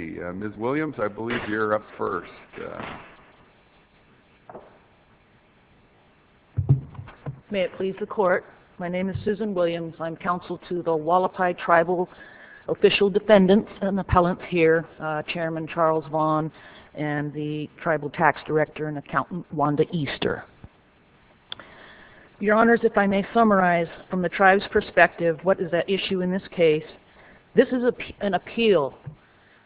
Let's see, Ms. Williams, I believe you're up first. May it please the court, my name is Susan Williams. I'm counsel to the Hualapai Tribal Official Defendants and Appellants here, Chairman Charles Vaughn and the Tribal Tax Director and Accountant Wanda Easter. Your Honors, if I may summarize from the tribe's perspective what is at issue in this case, this is an appeal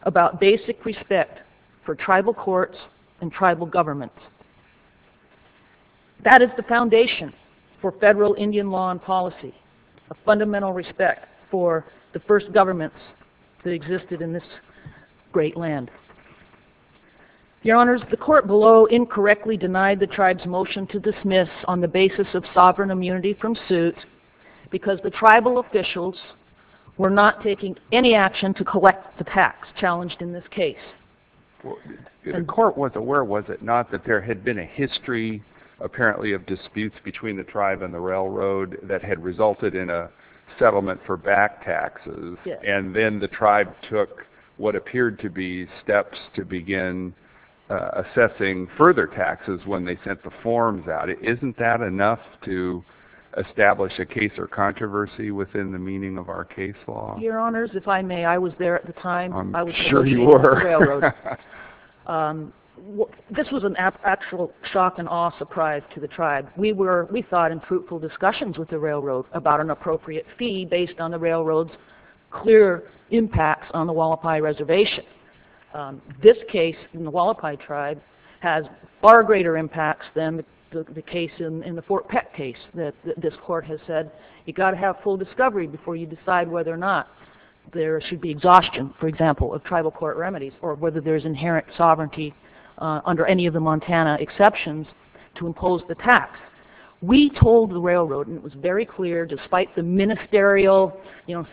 about basic respect for tribal courts and tribal governments. That is the foundation for federal Indian law and policy, a fundamental respect for the first governments that existed in this great land. Your Honors, the court below incorrectly denied the tribe's motion to dismiss on the basis of sovereign immunity from suit because the tribal officials were not taking any action to collect the tax challenged in this case. The court was aware, was it not, that there had been a history apparently of disputes between the tribe and the railroad that had resulted in a settlement for back taxes and then the tribe took what appeared to be steps to begin assessing further taxes when they sent the forms out. Isn't that enough to establish a case or controversy within the meaning of our case law? Your Honors, if I may, I was there at the time. I'm sure you were. This was an actual shock and awe surprise to the tribe. We thought in fruitful discussions with the railroad about an appropriate fee based on the railroad's clear impacts on the Hualapai tribe has far greater impacts than the case in the Fort Peck case that this court has said. You've got to have full discovery before you decide whether or not there should be exhaustion, for example, of tribal court remedies or whether there's inherent sovereignty under any of the Montana exceptions to impose the tax. We told the railroad, and it was very clear, despite the ministerial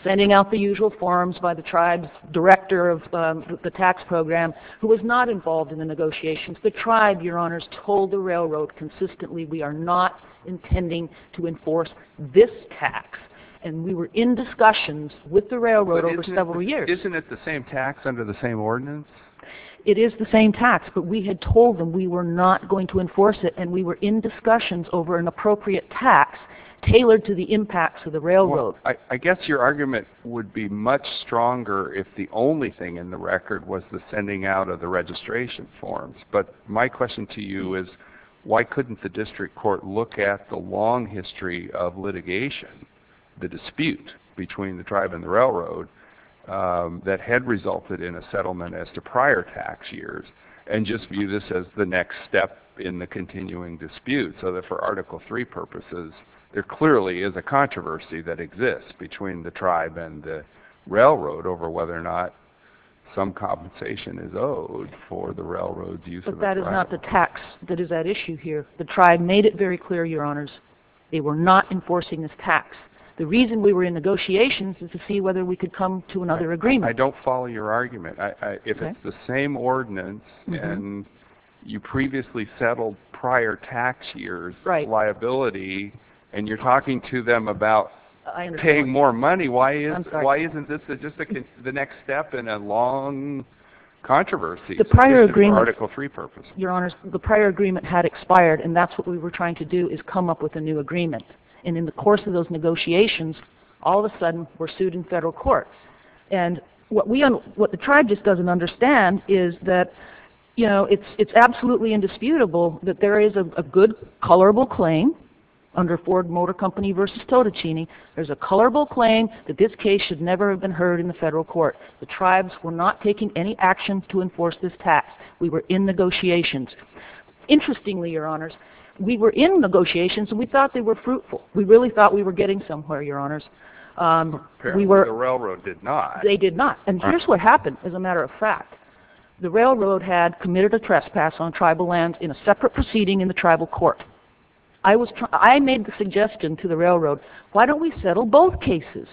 sending out the usual forms by the tribe's director of the tax program, who was not involved in the negotiations, the tribe, Your Honors, told the railroad consistently we are not intending to enforce this tax and we were in discussions with the railroad over several years. Isn't it the same tax under the same ordinance? It is the same tax, but we had told them we were not going to enforce it and we were in discussions over an appropriate tax tailored to the impacts of the railroad. I guess your argument would be much stronger if the only thing in the record was the sending out of the registration forms, but my question to you is, why couldn't the district court look at the long history of litigation, the dispute between the tribe and the railroad that had resulted in a settlement as to prior tax years and just view this as the next step in the continuing dispute so that for Article III purposes, there clearly is a controversy that exists between the tribe and the railroad over whether or not some compensation is owed for the railroad's use of the railroad. But that is not the tax that is at issue here. The tribe made it very clear, Your Honors, they were not enforcing this tax. The reason we were in negotiations is to see whether we could come to another agreement. I don't follow your argument. If it's the same ordinance and you previously settled prior tax years liability and you're paying more money, why isn't this just the next step in a long controversy for Article III purposes? Your Honors, the prior agreement had expired and that's what we were trying to do is come up with a new agreement. And in the course of those negotiations, all of a sudden, we're sued in federal court. And what the tribe just doesn't understand is that it's absolutely indisputable that there is a good, colorable claim under Ford Motor Company v. Totticini, there's a colorable claim that this case should never have been heard in the federal court. The tribes were not taking any action to enforce this tax. We were in negotiations. Interestingly, Your Honors, we were in negotiations and we thought they were fruitful. We really thought we were getting somewhere, Your Honors. Apparently, the railroad did not. And here's what happened, as a matter of fact. The railroad had committed a trespass on tribal lands in a separate proceeding in the tribal court. I made the suggestion to the railroad, why don't we settle both cases?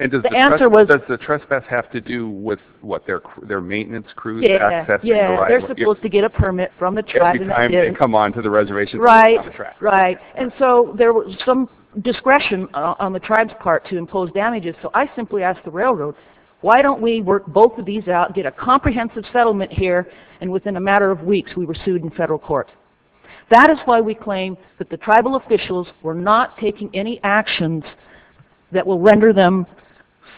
And the answer was... Does the trespass have to do with what, their maintenance crews accessing the... Yeah, they're supposed to get a permit from the tribe... Every time they come on to the reservation... Right, right. And so there was some discretion on the tribe's part to impose damages. So I simply asked the railroad, why don't we work both of these out, get a comprehensive settlement here, and within a matter of weeks, we were sued in federal court. That is why we claim that the tribal officials were not taking any actions that will render them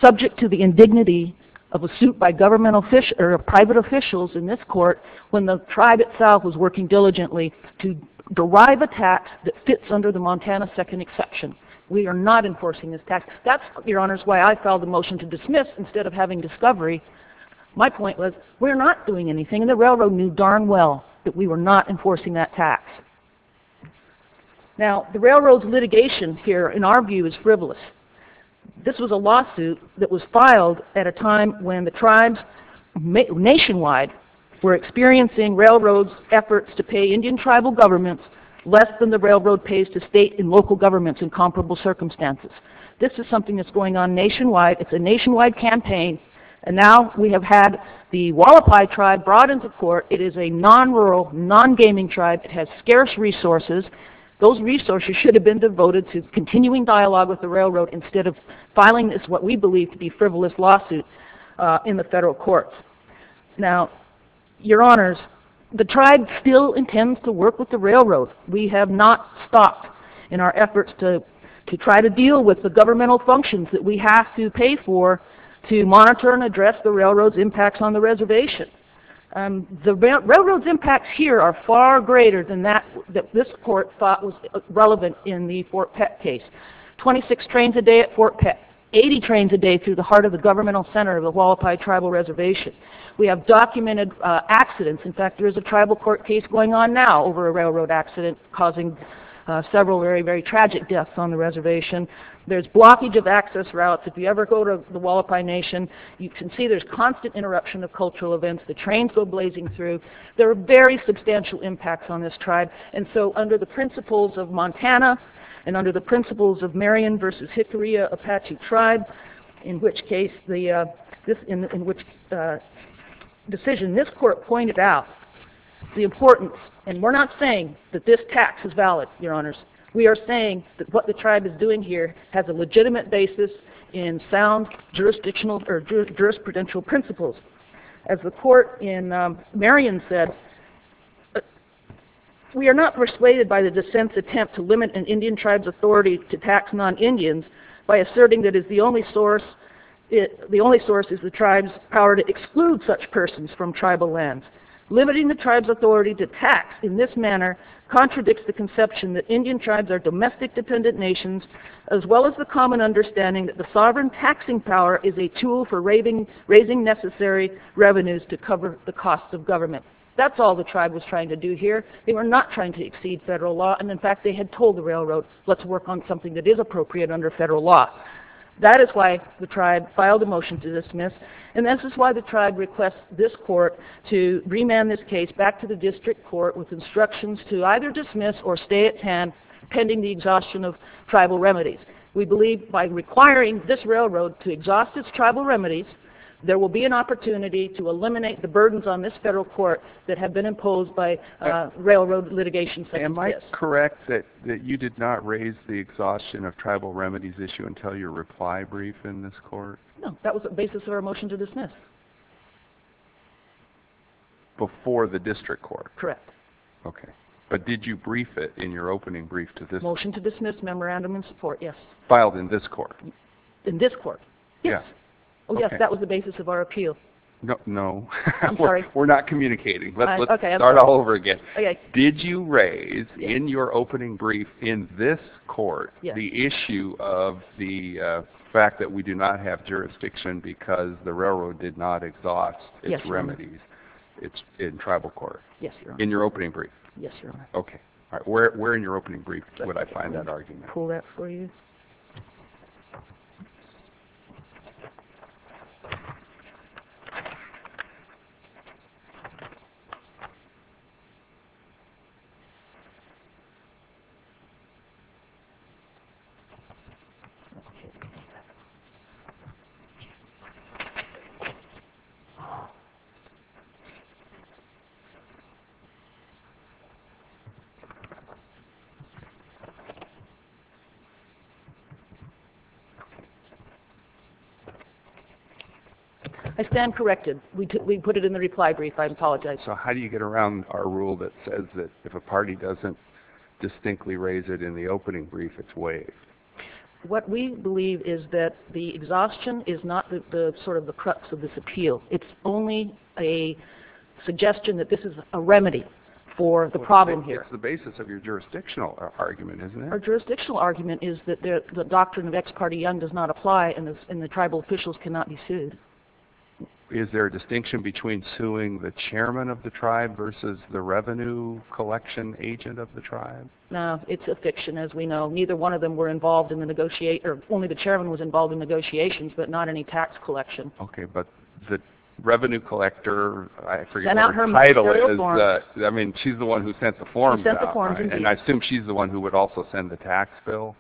subject to the indignity of a suit by private officials in this court, when the tribe itself was working diligently to derive a tax that fits under the Montana Second Exception. We are not enforcing this tax. That's, Your Honors, why I filed a motion to dismiss instead of having discovery. My point was, we're not doing anything, and the railroad knew darn well that we were not enforcing that tax. Now, the railroad's litigation here, in our view, is frivolous. This was a lawsuit that was filed at a time when the tribes nationwide were experiencing railroad's efforts to pay Indian tribal governments less than the railroad pays to state and local governments in comparable circumstances. This is something that's going on nationwide. It's a nationwide campaign, and now we have had the Hualapai tribe brought into court. It is a non-rural, non-gaming tribe. It has scarce resources. Those resources should have been devoted to continuing dialogue with the railroad instead of filing this what we believe to be frivolous lawsuit in the federal courts. Now, Your Honors, the tribe still intends to work with the railroad. We have not stopped in our efforts to try to deal with the governmental functions that we have to pay for to monitor and address the railroad's impacts on the reservation. The railroad's impacts here are far greater than this court thought was relevant in the Fort Peck case. Twenty-six trains a day at Fort Peck. Eighty trains a day through the heart of the governmental center of the Hualapai tribal reservation. We have documented accidents. In fact, there is a tribal court case going on now over a railroad accident causing several very, very tragic deaths on the reservation. There's blockage of access routes. If you ever go to the Hualapai Nation, you can see there's constant interruption of cultural events. The trains go blazing through. There are very substantial impacts on this tribe, and so under the principles of Montana and under the principles of Marion versus Hickory Apache tribe, in which case the decision this court pointed out the importance, and we're not saying that this tax is valid, your honors. We are saying that what the tribe is doing here has a legitimate basis in sound jurisdictional or jurisprudential principles. As the court in Marion said, we are not persuaded by the dissent's attempt to limit an Indian tribe's authority to tax non-Indians by asserting that the only source is the tribe's power to exclude such persons from tribal lands. Limiting the tribe's authority to tax in this manner contradicts the conception that Indian tribes are domestic-dependent nations as well as the common understanding that the sovereign taxing power is a tool for raising necessary revenues to cover the cost of government. That's all the tribe was trying to do here. They were not trying to exceed federal law, and in fact, they had told the railroad, let's work on something that is appropriate under federal law. That is why the tribe filed a motion to dismiss, and this is why the tribe requests this court to remand this case back to the district court with instructions to either dismiss or stay at hand pending the exhaustion of tribal remedies. We believe by requiring this railroad to exhaust its tribal remedies, there will be an opportunity to eliminate the burdens on this federal court that have been imposed by railroad litigation. Am I correct that you did not raise the exhaustion of tribal remedies issue until your reply brief in this court? No, that was the basis of our motion to dismiss. Before the district court? Correct. Okay, but did you brief it in your opening brief to this court? Motion to dismiss, memorandum in support, yes. Filed in this court? In this court, yes. Yes, that was the basis of our appeal. No, we're not communicating. Let's start all over again. Did you raise in your opening brief in this court the issue of the fact that we do not have jurisdiction because the railroad did not exhaust its remedies? It's in tribal court? Yes, Your Honor. In your opening brief? Yes, Your Honor. Okay. All right, where in your opening brief would I find that argument? Let me pull that for you. I stand corrected. We put it in the reply brief. I apologize. So how do you get around our rule that says that if a party doesn't distinctly raise it in the opening brief, it's waived? What we believe is that the exhaustion is not sort of the crux of this appeal. It's only a suggestion that this is a remedy for the problem here. It's the basis of your jurisdictional argument, isn't it? Our jurisdictional argument is that the doctrine of ex parte young does not apply and the tribal officials cannot be sued. Is there a distinction between suing the chairman of the tribe versus the revenue collection agent of the tribe? No, it's a fiction as we know. Neither one of them were involved in the negotiator, only the chairman was involved in negotiations but not any tax collection. Okay, but the revenue collector, I forget what her title is. I mean, she's the one who sent the forms out, right? And I assume she's the one who would also send the tax bill?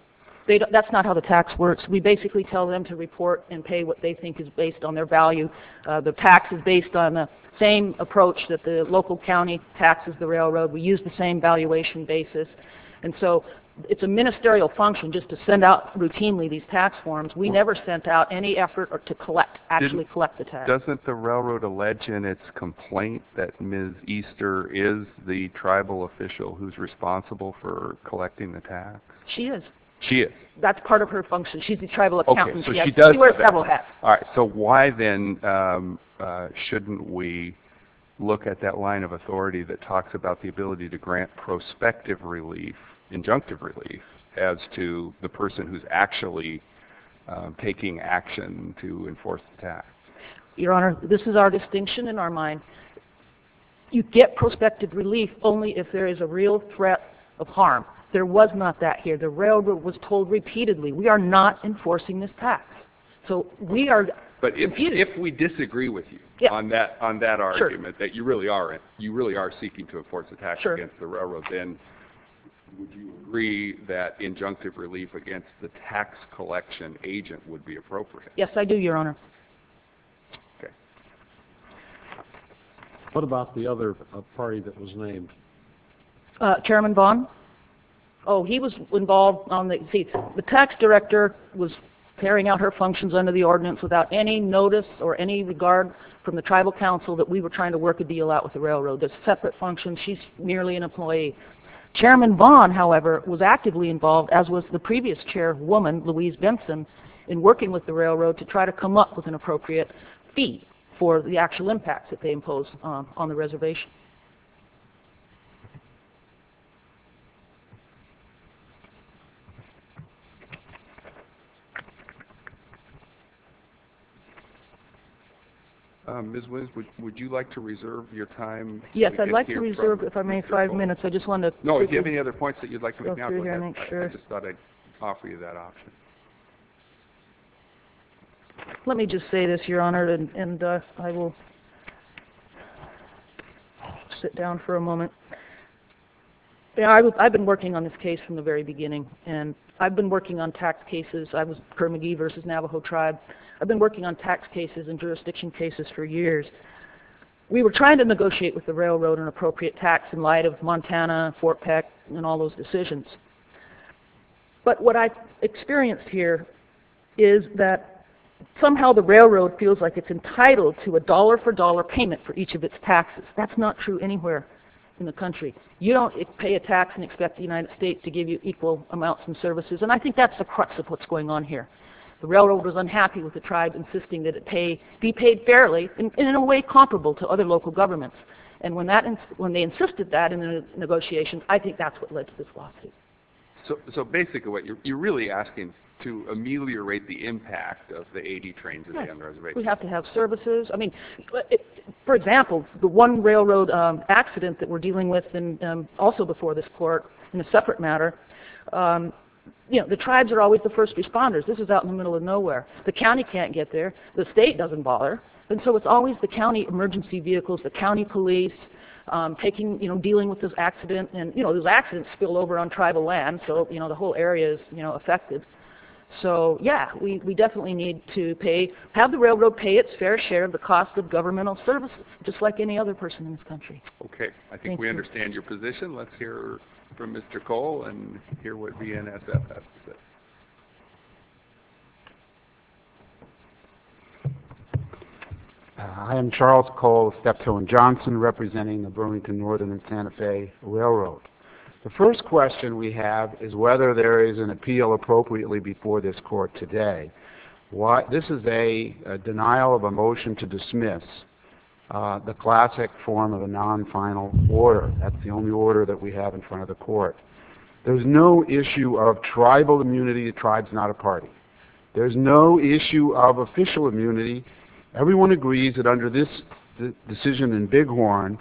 That's not how the tax works. We basically tell them to report and pay what they think is based on their value. The tax is based on the same approach that the local county taxes the railroad. We use the same valuation basis. And so, it's a ministerial function just to send out routinely these tax forms. We never sent out any effort to collect, actually collect the tax. Doesn't the railroad allege in its complaint that Ms. Easter is the tribal official who's responsible for collecting the tax? She is. She is. That's part of her function. She's the tribal accountant. She wears tribal hats. All right, so why then shouldn't we look at that line of authority that talks about the ability to grant prospective relief, injunctive relief, as to the person who's actually taking action to enforce the tax? Your Honor, this is our distinction in our mind. You get prospective relief only if there is a real threat of harm. There was not that here. The railroad was told repeatedly. We are not enforcing this tax. So, we are. But if we disagree with you on that argument, that you really are seeking to enforce the tax against the railroad, then would you agree that injunctive relief against the tax collection agent would be appropriate? Yes, I do, Your Honor. Okay. What about the other party that was named? Chairman Vaughn? Oh, he was involved on the, see, the tax director was carrying out her functions under the ordinance without any notice or any regard from the tribal council that we were trying to work a deal out with the railroad. There's a separate function. She's merely an employee. Chairman Vaughn, however, was actively involved, as was the previous chairwoman, Louise Benson, in working with the railroad to try to come up with an appropriate fee for the actual impact that they imposed on the reservation. Ms. Williams, would you like to reserve your time? Yes, I'd like to reserve if I may five minutes. I just wanted to... No, if you have any other points that you'd like to make now, go ahead. I just thought I'd offer you that option. Let me just say this, Your Honor, and I will sit down for a moment. I've been working on this case from the very beginning, and I've been working on tax cases. I was Kerr-McGee versus Navajo tribe. I've been working on tax cases and jurisdiction cases for years. We were trying to negotiate with the railroad an appropriate tax in light of Montana, Fort Peck, and all those decisions. But what I experienced here is that somehow the railroad feels like it's entitled to a dollar for dollar payment for each of its taxes. That's not true anywhere in the country. You don't pay a tax and expect the United States to give you equal amounts and services, and I think that's the crux of what's going on here. The railroad was unhappy with the tribe insisting that it be paid fairly and in a way comparable to other local governments. And when they insisted that in the negotiations, I think that's what led to this lawsuit. So basically what you're really asking to ameliorate the impact of the AD trains in the reservation. We have to have services. I mean, for example, the one railroad accident that we're dealing with also before this court in a separate matter. You know, the tribes are always the first responders. This is out in the middle of nowhere. The county can't get there. The state doesn't bother. And so it's always the county emergency vehicles, the county police taking, you know, dealing with this accident and, you know, these accidents spill over on tribal land. So, you know, the whole area is, you know, affected. So yeah, we definitely need to pay, have the railroad pay its fair share of the cost of governmental services, just like any other person in this country. Okay. I think we understand your position. Let's hear from Mr. Cole and hear what BNSF has to say. I am Charles Cole of Stephill & Johnson representing the Burlington Northern and Santa Fe Railroad. The first question we have is whether there is an appeal appropriately before this court today. This is a denial of a motion to dismiss, the classic form of a non-final order. That's the only order that we have in front of the court. There's no issue of tribal immunity, the tribe's not a party. There's no issue of official immunity. Everyone agrees that under this decision in Bighorn,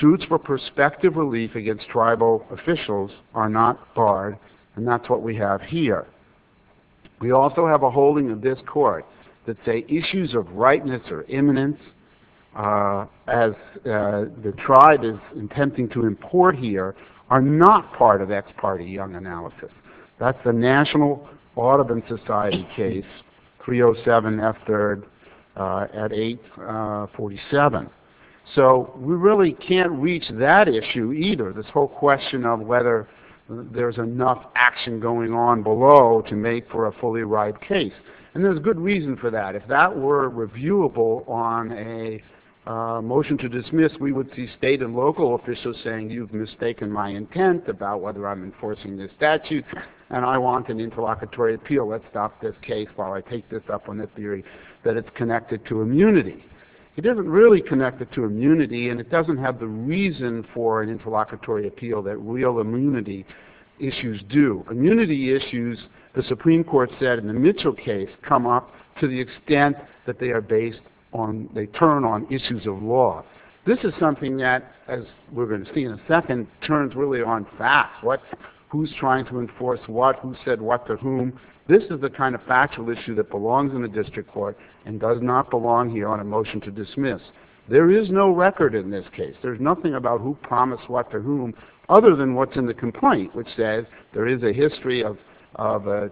suits for prospective relief against tribal officials are not barred. And that's what we have here. We also have a holding of this court that say issues of rightness or imminence as the tribe is attempting to import here are not part of ex parte young analysis. That's the National Audubon Society case, 307 F3rd at 847. So we really can't reach that issue either, this whole question of whether there's enough action going on below to make for a fully right case. And there's good reason for that. If that were reviewable on a motion to dismiss, we would see state and local officials saying you've mistaken my intent about whether I'm enforcing this statute and I want an interlocutory appeal. Let's stop this case while I take this up on the theory that it's connected to immunity. It isn't really connected to immunity and it doesn't have the reason for an interlocutory appeal that real immunity issues do. Immunity issues, the Supreme Court said in the Mitchell case, come up to the extent that they are based on, they turn on issues of law. This is something that, as we're going to see in a second, turns really on facts. What, who's trying to enforce what, who said what to whom. This is the kind of factual issue that belongs in the district court and does not belong here on a motion to dismiss. There is no record in this case. There's nothing about who promised what to whom other than what's in the complaint which says there is a history of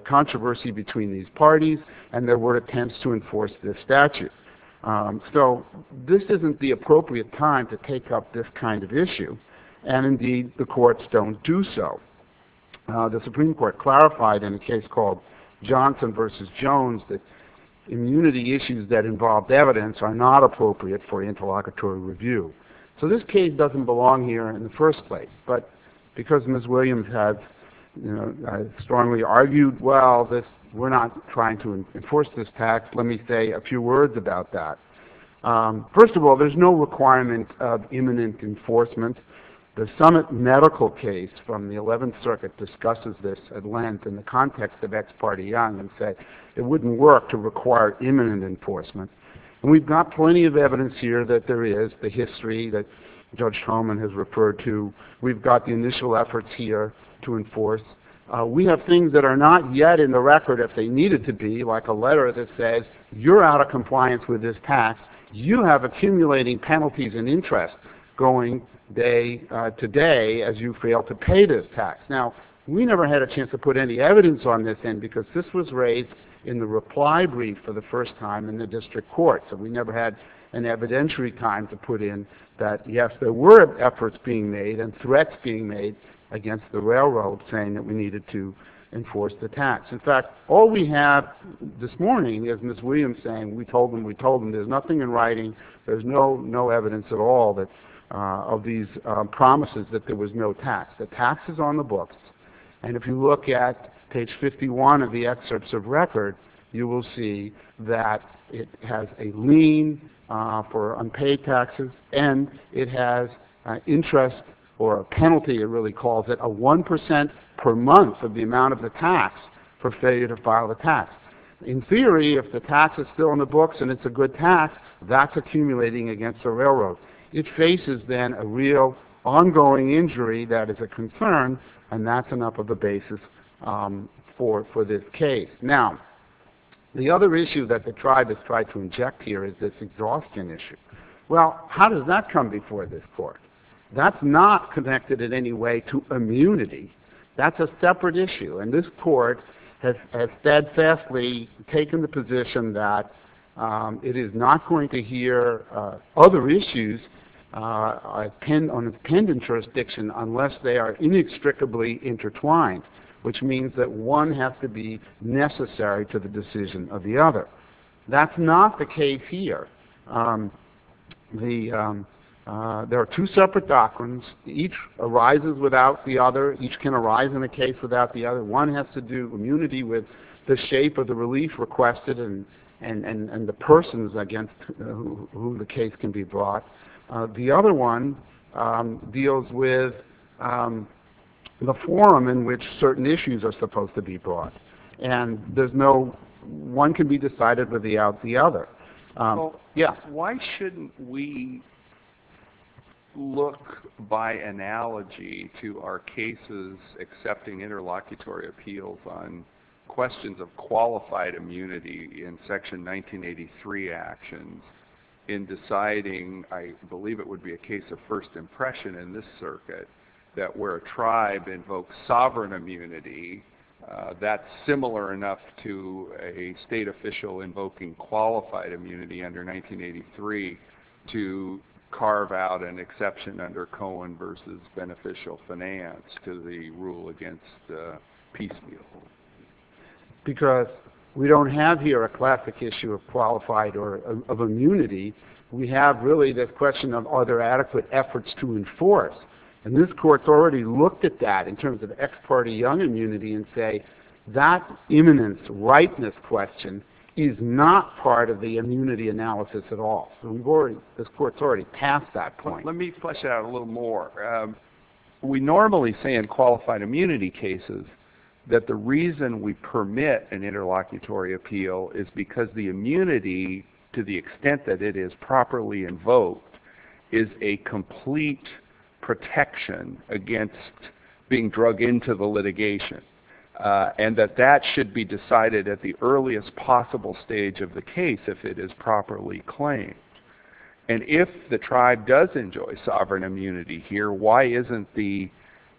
controversy between these parties and there were attempts to enforce this statute. So this isn't the appropriate time to take up this kind of issue and indeed the courts don't do so. The Supreme Court clarified in a case called Johnson versus Jones that immunity issues that involved evidence are not appropriate for interlocutory review. So this case doesn't belong here in the first place, but because Ms. Williams has, you know, strongly argued, well, we're not trying to enforce this tax, let me say a few words about that. First of all, there's no requirement of imminent enforcement. The summit medical case from the 11th circuit discusses this at length in the context of ex parte young and said it wouldn't work to require imminent enforcement. And we've got plenty of evidence here that there is, the history that Judge Truman has referred to. We've got the initial efforts here to enforce. We have things that are not yet in the record if they needed to be like a letter that says you're out of compliance with this tax, you have accumulating penalties and interest going day to day as you fail to pay this tax. Now, we never had a chance to put any evidence on this end because this was raised in the reply brief for the first time in the district court. So we never had an evidentiary time to put in that, yes, there were efforts being made and threats being made against the railroad saying that we needed to enforce the tax. In fact, all we have this morning is Ms. Williams saying we told them, we told them, there's nothing in writing, there's no evidence at all that, of these promises that there was no tax. The tax is on the books and if you look at page 51 of the excerpts of record, you will see that it has a lien for unpaid taxes and it has interest or a penalty it really calls it, a 1% per month of the amount of the tax for failure to file the tax. In theory, if the tax is still on the books and it's a good tax, that's accumulating against the railroad. It faces then a real ongoing injury that is a concern and that's enough of a basis for this case. Now, the other issue that the tribe has tried to inject here is this exhaustion issue. Well, how does that come before this court? That's not connected in any way to immunity. That's a separate issue and this court has steadfastly taken the position that it is not going to hear other issues on a pending jurisdiction unless they are inextricably intertwined which means that one has to be necessary to the decision of the other. That's not the case here. There are two separate doctrines, each arises without the other, each can arise in a case without the other. One has to do immunity with the shape of the relief requested and the persons against who the case can be brought. The other one deals with the forum in which certain issues are supposed to be brought and there's no one can be decided without the other. Yeah. Why shouldn't we look by analogy to our cases accepting interlocutory appeals on questions of qualified immunity in section 1983 actions in deciding, I believe it would be a case of first impression in this circuit that where a tribe invokes sovereign immunity that's similar enough to a state official invoking qualified immunity under 1983 to carve out an exception under Cohen versus beneficial finance to the rule against the piecemeal. Because we don't have here a classic issue of qualified or of immunity. We have really the question of are there adequate efforts to enforce and this court's already looked at that in terms of ex parte young immunity and say that eminence rightness question is not part of the immunity analysis at all. We've already, this court's already passed that point. Let me flesh it out a little more. We normally say in qualified immunity cases that the reason we permit an interlocutory appeal is because the immunity to the extent that it is properly invoked is a complete protection against being drug into the litigation. And that that should be decided at the earliest possible stage of the case if it is properly claimed. And if the tribe does enjoy sovereign immunity here, why isn't the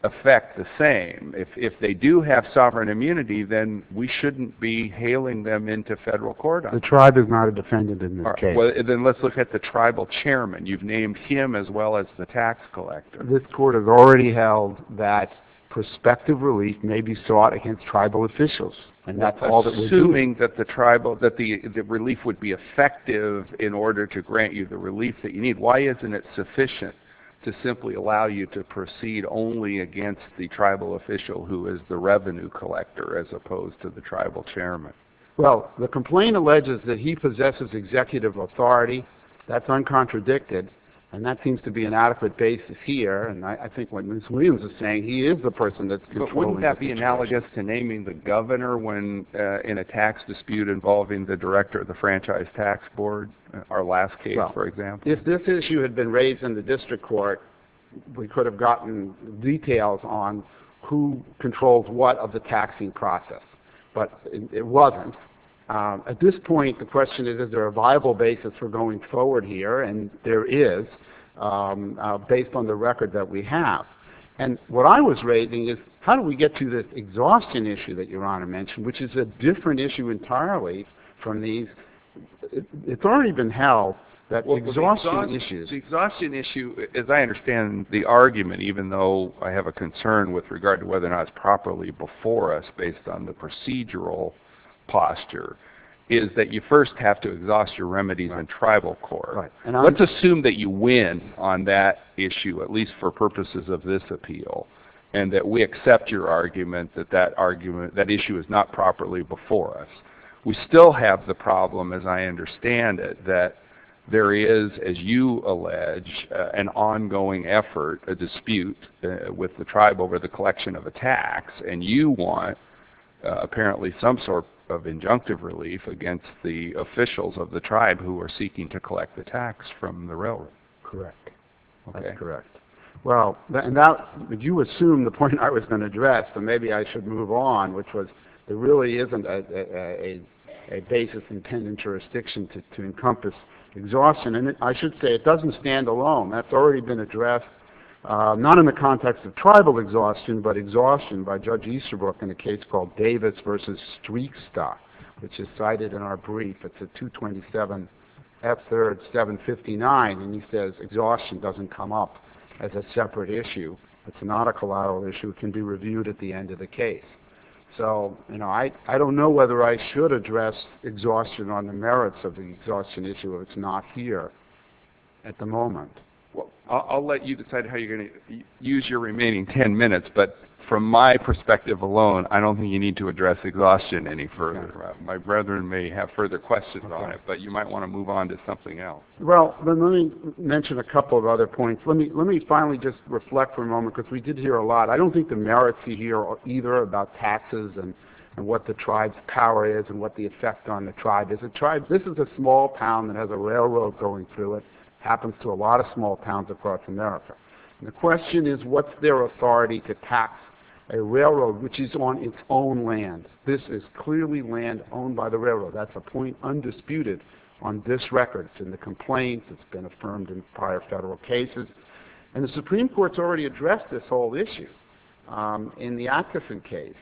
effect the same? If they do have sovereign immunity, then we shouldn't be hailing them into federal court. The tribe is not a defendant in this case. Then let's look at the tribal chairman. You've named him as well as the tax collector. This court has already held that prospective relief may be sought against tribal officials. And that's all that we do. Assuming that the tribal, that the relief would be effective in order to grant you the relief that you need. Why isn't it sufficient to simply allow you to proceed only against the tribal official who is the revenue collector as opposed to the tribal chairman? Well, the complaint alleges that he possesses executive authority. That's uncontradicted. And that seems to be an adequate basis here. And I think what Ms. Williams is saying, he is the person that's controlling the situation. But wouldn't that be analogous to naming the governor when in a tax dispute involving the director of the franchise tax board, our last case for example? If this issue had been raised in the district court, we could have gotten details on who controls what of the taxing process. But it wasn't. At this point, the question is, is there a viable basis for going forward here? And there is, based on the record that we have. And what I was raising is, how do we get to this exhaustion issue that Your Honor mentioned, which is a different issue entirely from these, it's already been held that exhaustion issues. The exhaustion issue, as I understand the argument, even though I have a concern with regard to whether or not it's properly before us based on the procedural posture, is that you first have to exhaust your remedies in tribal court. Let's assume that you win on that issue, at least for purposes of this appeal, and that we accept your argument that that argument, that issue is not properly before us. We still have the problem, as I understand it, that there is, as you allege, an ongoing effort, a dispute, with the tribe over the collection of a tax. And you want, apparently, some sort of injunctive relief against the officials of the tribe who are seeking to collect the tax from the railroad. Correct. Okay. Correct. Well, and that, would you assume the point I was going to address, and maybe I should move on, which was, there really isn't a basis in penitentiary restriction to encompass exhaustion. And I should say, it doesn't stand alone. That's already been addressed, not in the context of tribal exhaustion, but exhaustion by Judge Easterbrook in a case called Davis versus Streiksta, which is cited in our brief. It's a 227 F-3rd 759, and he says exhaustion doesn't come up as a separate issue. It's not a collateral issue. It can be reviewed at the end of the case. So, you know, I don't know whether I should address exhaustion on the merits of the exhaustion issue if it's not here at the moment. Well, I'll let you decide how you're going to use your remaining 10 minutes, but from my perspective alone, I don't think you need to address exhaustion any further. My brethren may have further questions on it, but you might want to move on to something else. Well, let me mention a couple of other points. Let me finally just reflect for a moment, because we did hear a lot. I don't think the merits you hear either about taxes and what the tribe's power is and what the effect on the tribe is. The tribe, this is a small town that has a railroad going through it. Happens to a lot of small towns across America. The question is, what's their authority to tax a railroad which is on its own land? This is clearly land owned by the railroad. That's a point undisputed on this record and the complaints that's been affirmed in prior federal cases, and the Supreme Court's already addressed this whole issue in the Atchison case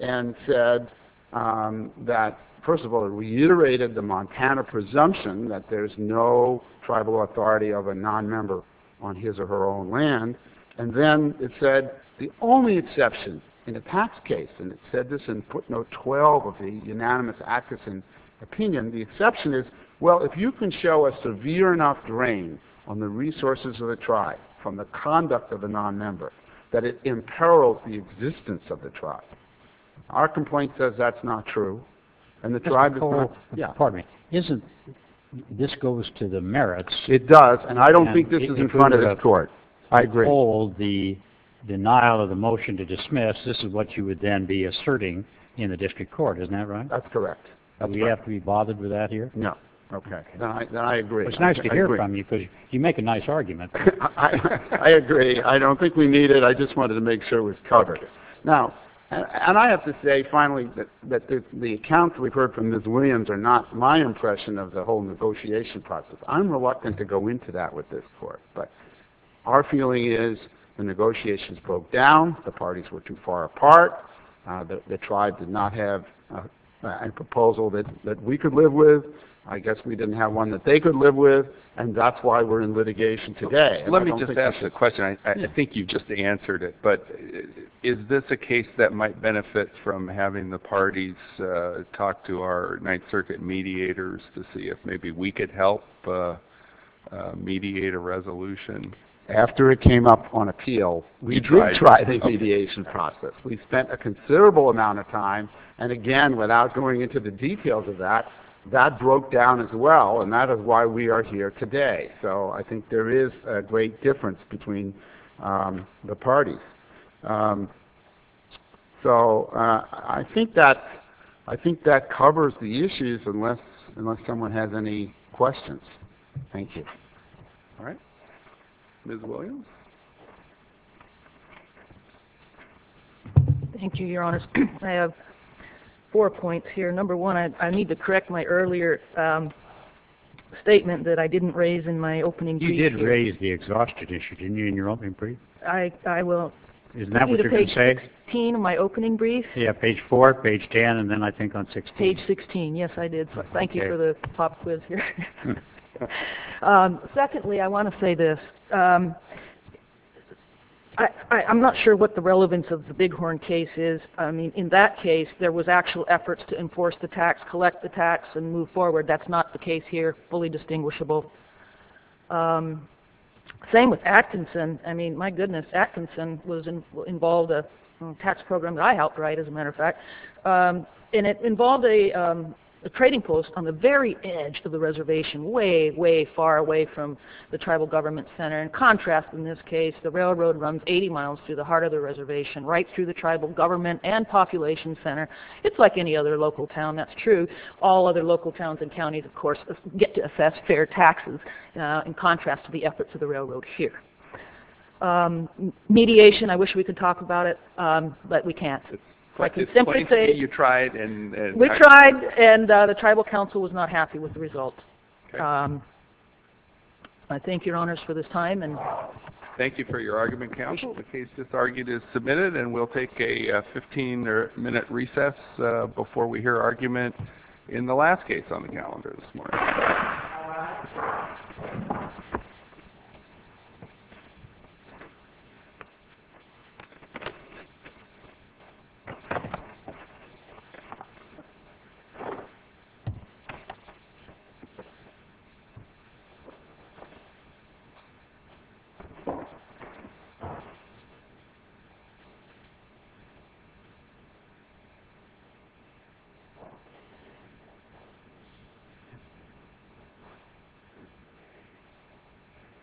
and said that, first of all, reiterated the Montana presumption that there's no tribal authority of a non-member on his or her own land, and then it said the only exception in the Pax case, and it said this in footnote 12 of the unanimous Atchison opinion, the exception is, well, if you can show a severe enough drain on the resources of the tribe from the conduct of a non-member, that it imperils the existence of the tribe. Our complaint says that's not true, and the tribe is not. Yeah. Pardon me. Isn't this goes to the merits? It does, and I don't think this is in front of the court. I agree. Hold the denial of the motion to dismiss. This is what you would then be asserting in a district court. Isn't that right? That's correct. Do we have to be bothered with that here? No. Okay. Then I agree. It's nice to hear from you because you make a nice argument. I agree. I don't think we need it. I just wanted to make sure it was covered. Now, and I have to say, finally, that the accounts we've heard from Ms. Williams are not my impression of the whole negotiation process. I'm reluctant to go into that with this court, but our feeling is the negotiations broke down. The parties were too far apart. The tribe did not have a proposal that we could live with. I guess we didn't have one that they could live with, and that's why we're in litigation today. Let me just ask a question. I think you just answered it, but is this a case that might benefit from having the parties talk to our Ninth Circuit mediators to see if maybe we could help mediate a resolution? After it came up on appeal, we did try the mediation process. We spent a considerable amount of time, and again, without going into the details of that, that broke down as well, and that is why we are here today. So I think there is a great difference between the parties. So I think that covers the issues, unless someone has any questions. Thank you. All right. Ms. Williams? Thank you, Your Honor. I have four points here. Number one, I need to correct my earlier statement that I didn't raise in my opening brief. You did raise the exhaustion issue, didn't you, in your opening brief? I will repeat it on page 16 of my opening brief. Yeah, page 4, page 10, and then I think on 16. Page 16, yes, I did. So thank you for the pop quiz here. Secondly, I want to say this. I'm not sure what the relevance of the Bighorn case is. I mean, in that case, there was actual efforts to enforce the tax, collect the tax, and move forward. That's not the case here, fully distinguishable. Same with Atkinson. I mean, my goodness, Atkinson involved a tax program that I helped write, as a matter of fact, and it involved a trading post on the very edge of the reservation, way, way far away from the tribal government center. In contrast, in this case, the railroad runs 80 miles through the heart of the reservation, right through the tribal government and population center. It's like any other local town. That's true. All other local towns and counties, of course, get to assess fair taxes in contrast to the efforts of the railroad here. Mediation, I wish we could talk about it, but we can't. I can simply say- You tried and- We tried, and the tribal council was not happy with the results. I thank your honors for this time. Thank you for your argument, counsel. The case that's argued is submitted, and we'll take a 15-minute recess before we hear argument in the last case on the calendar this morning. All right.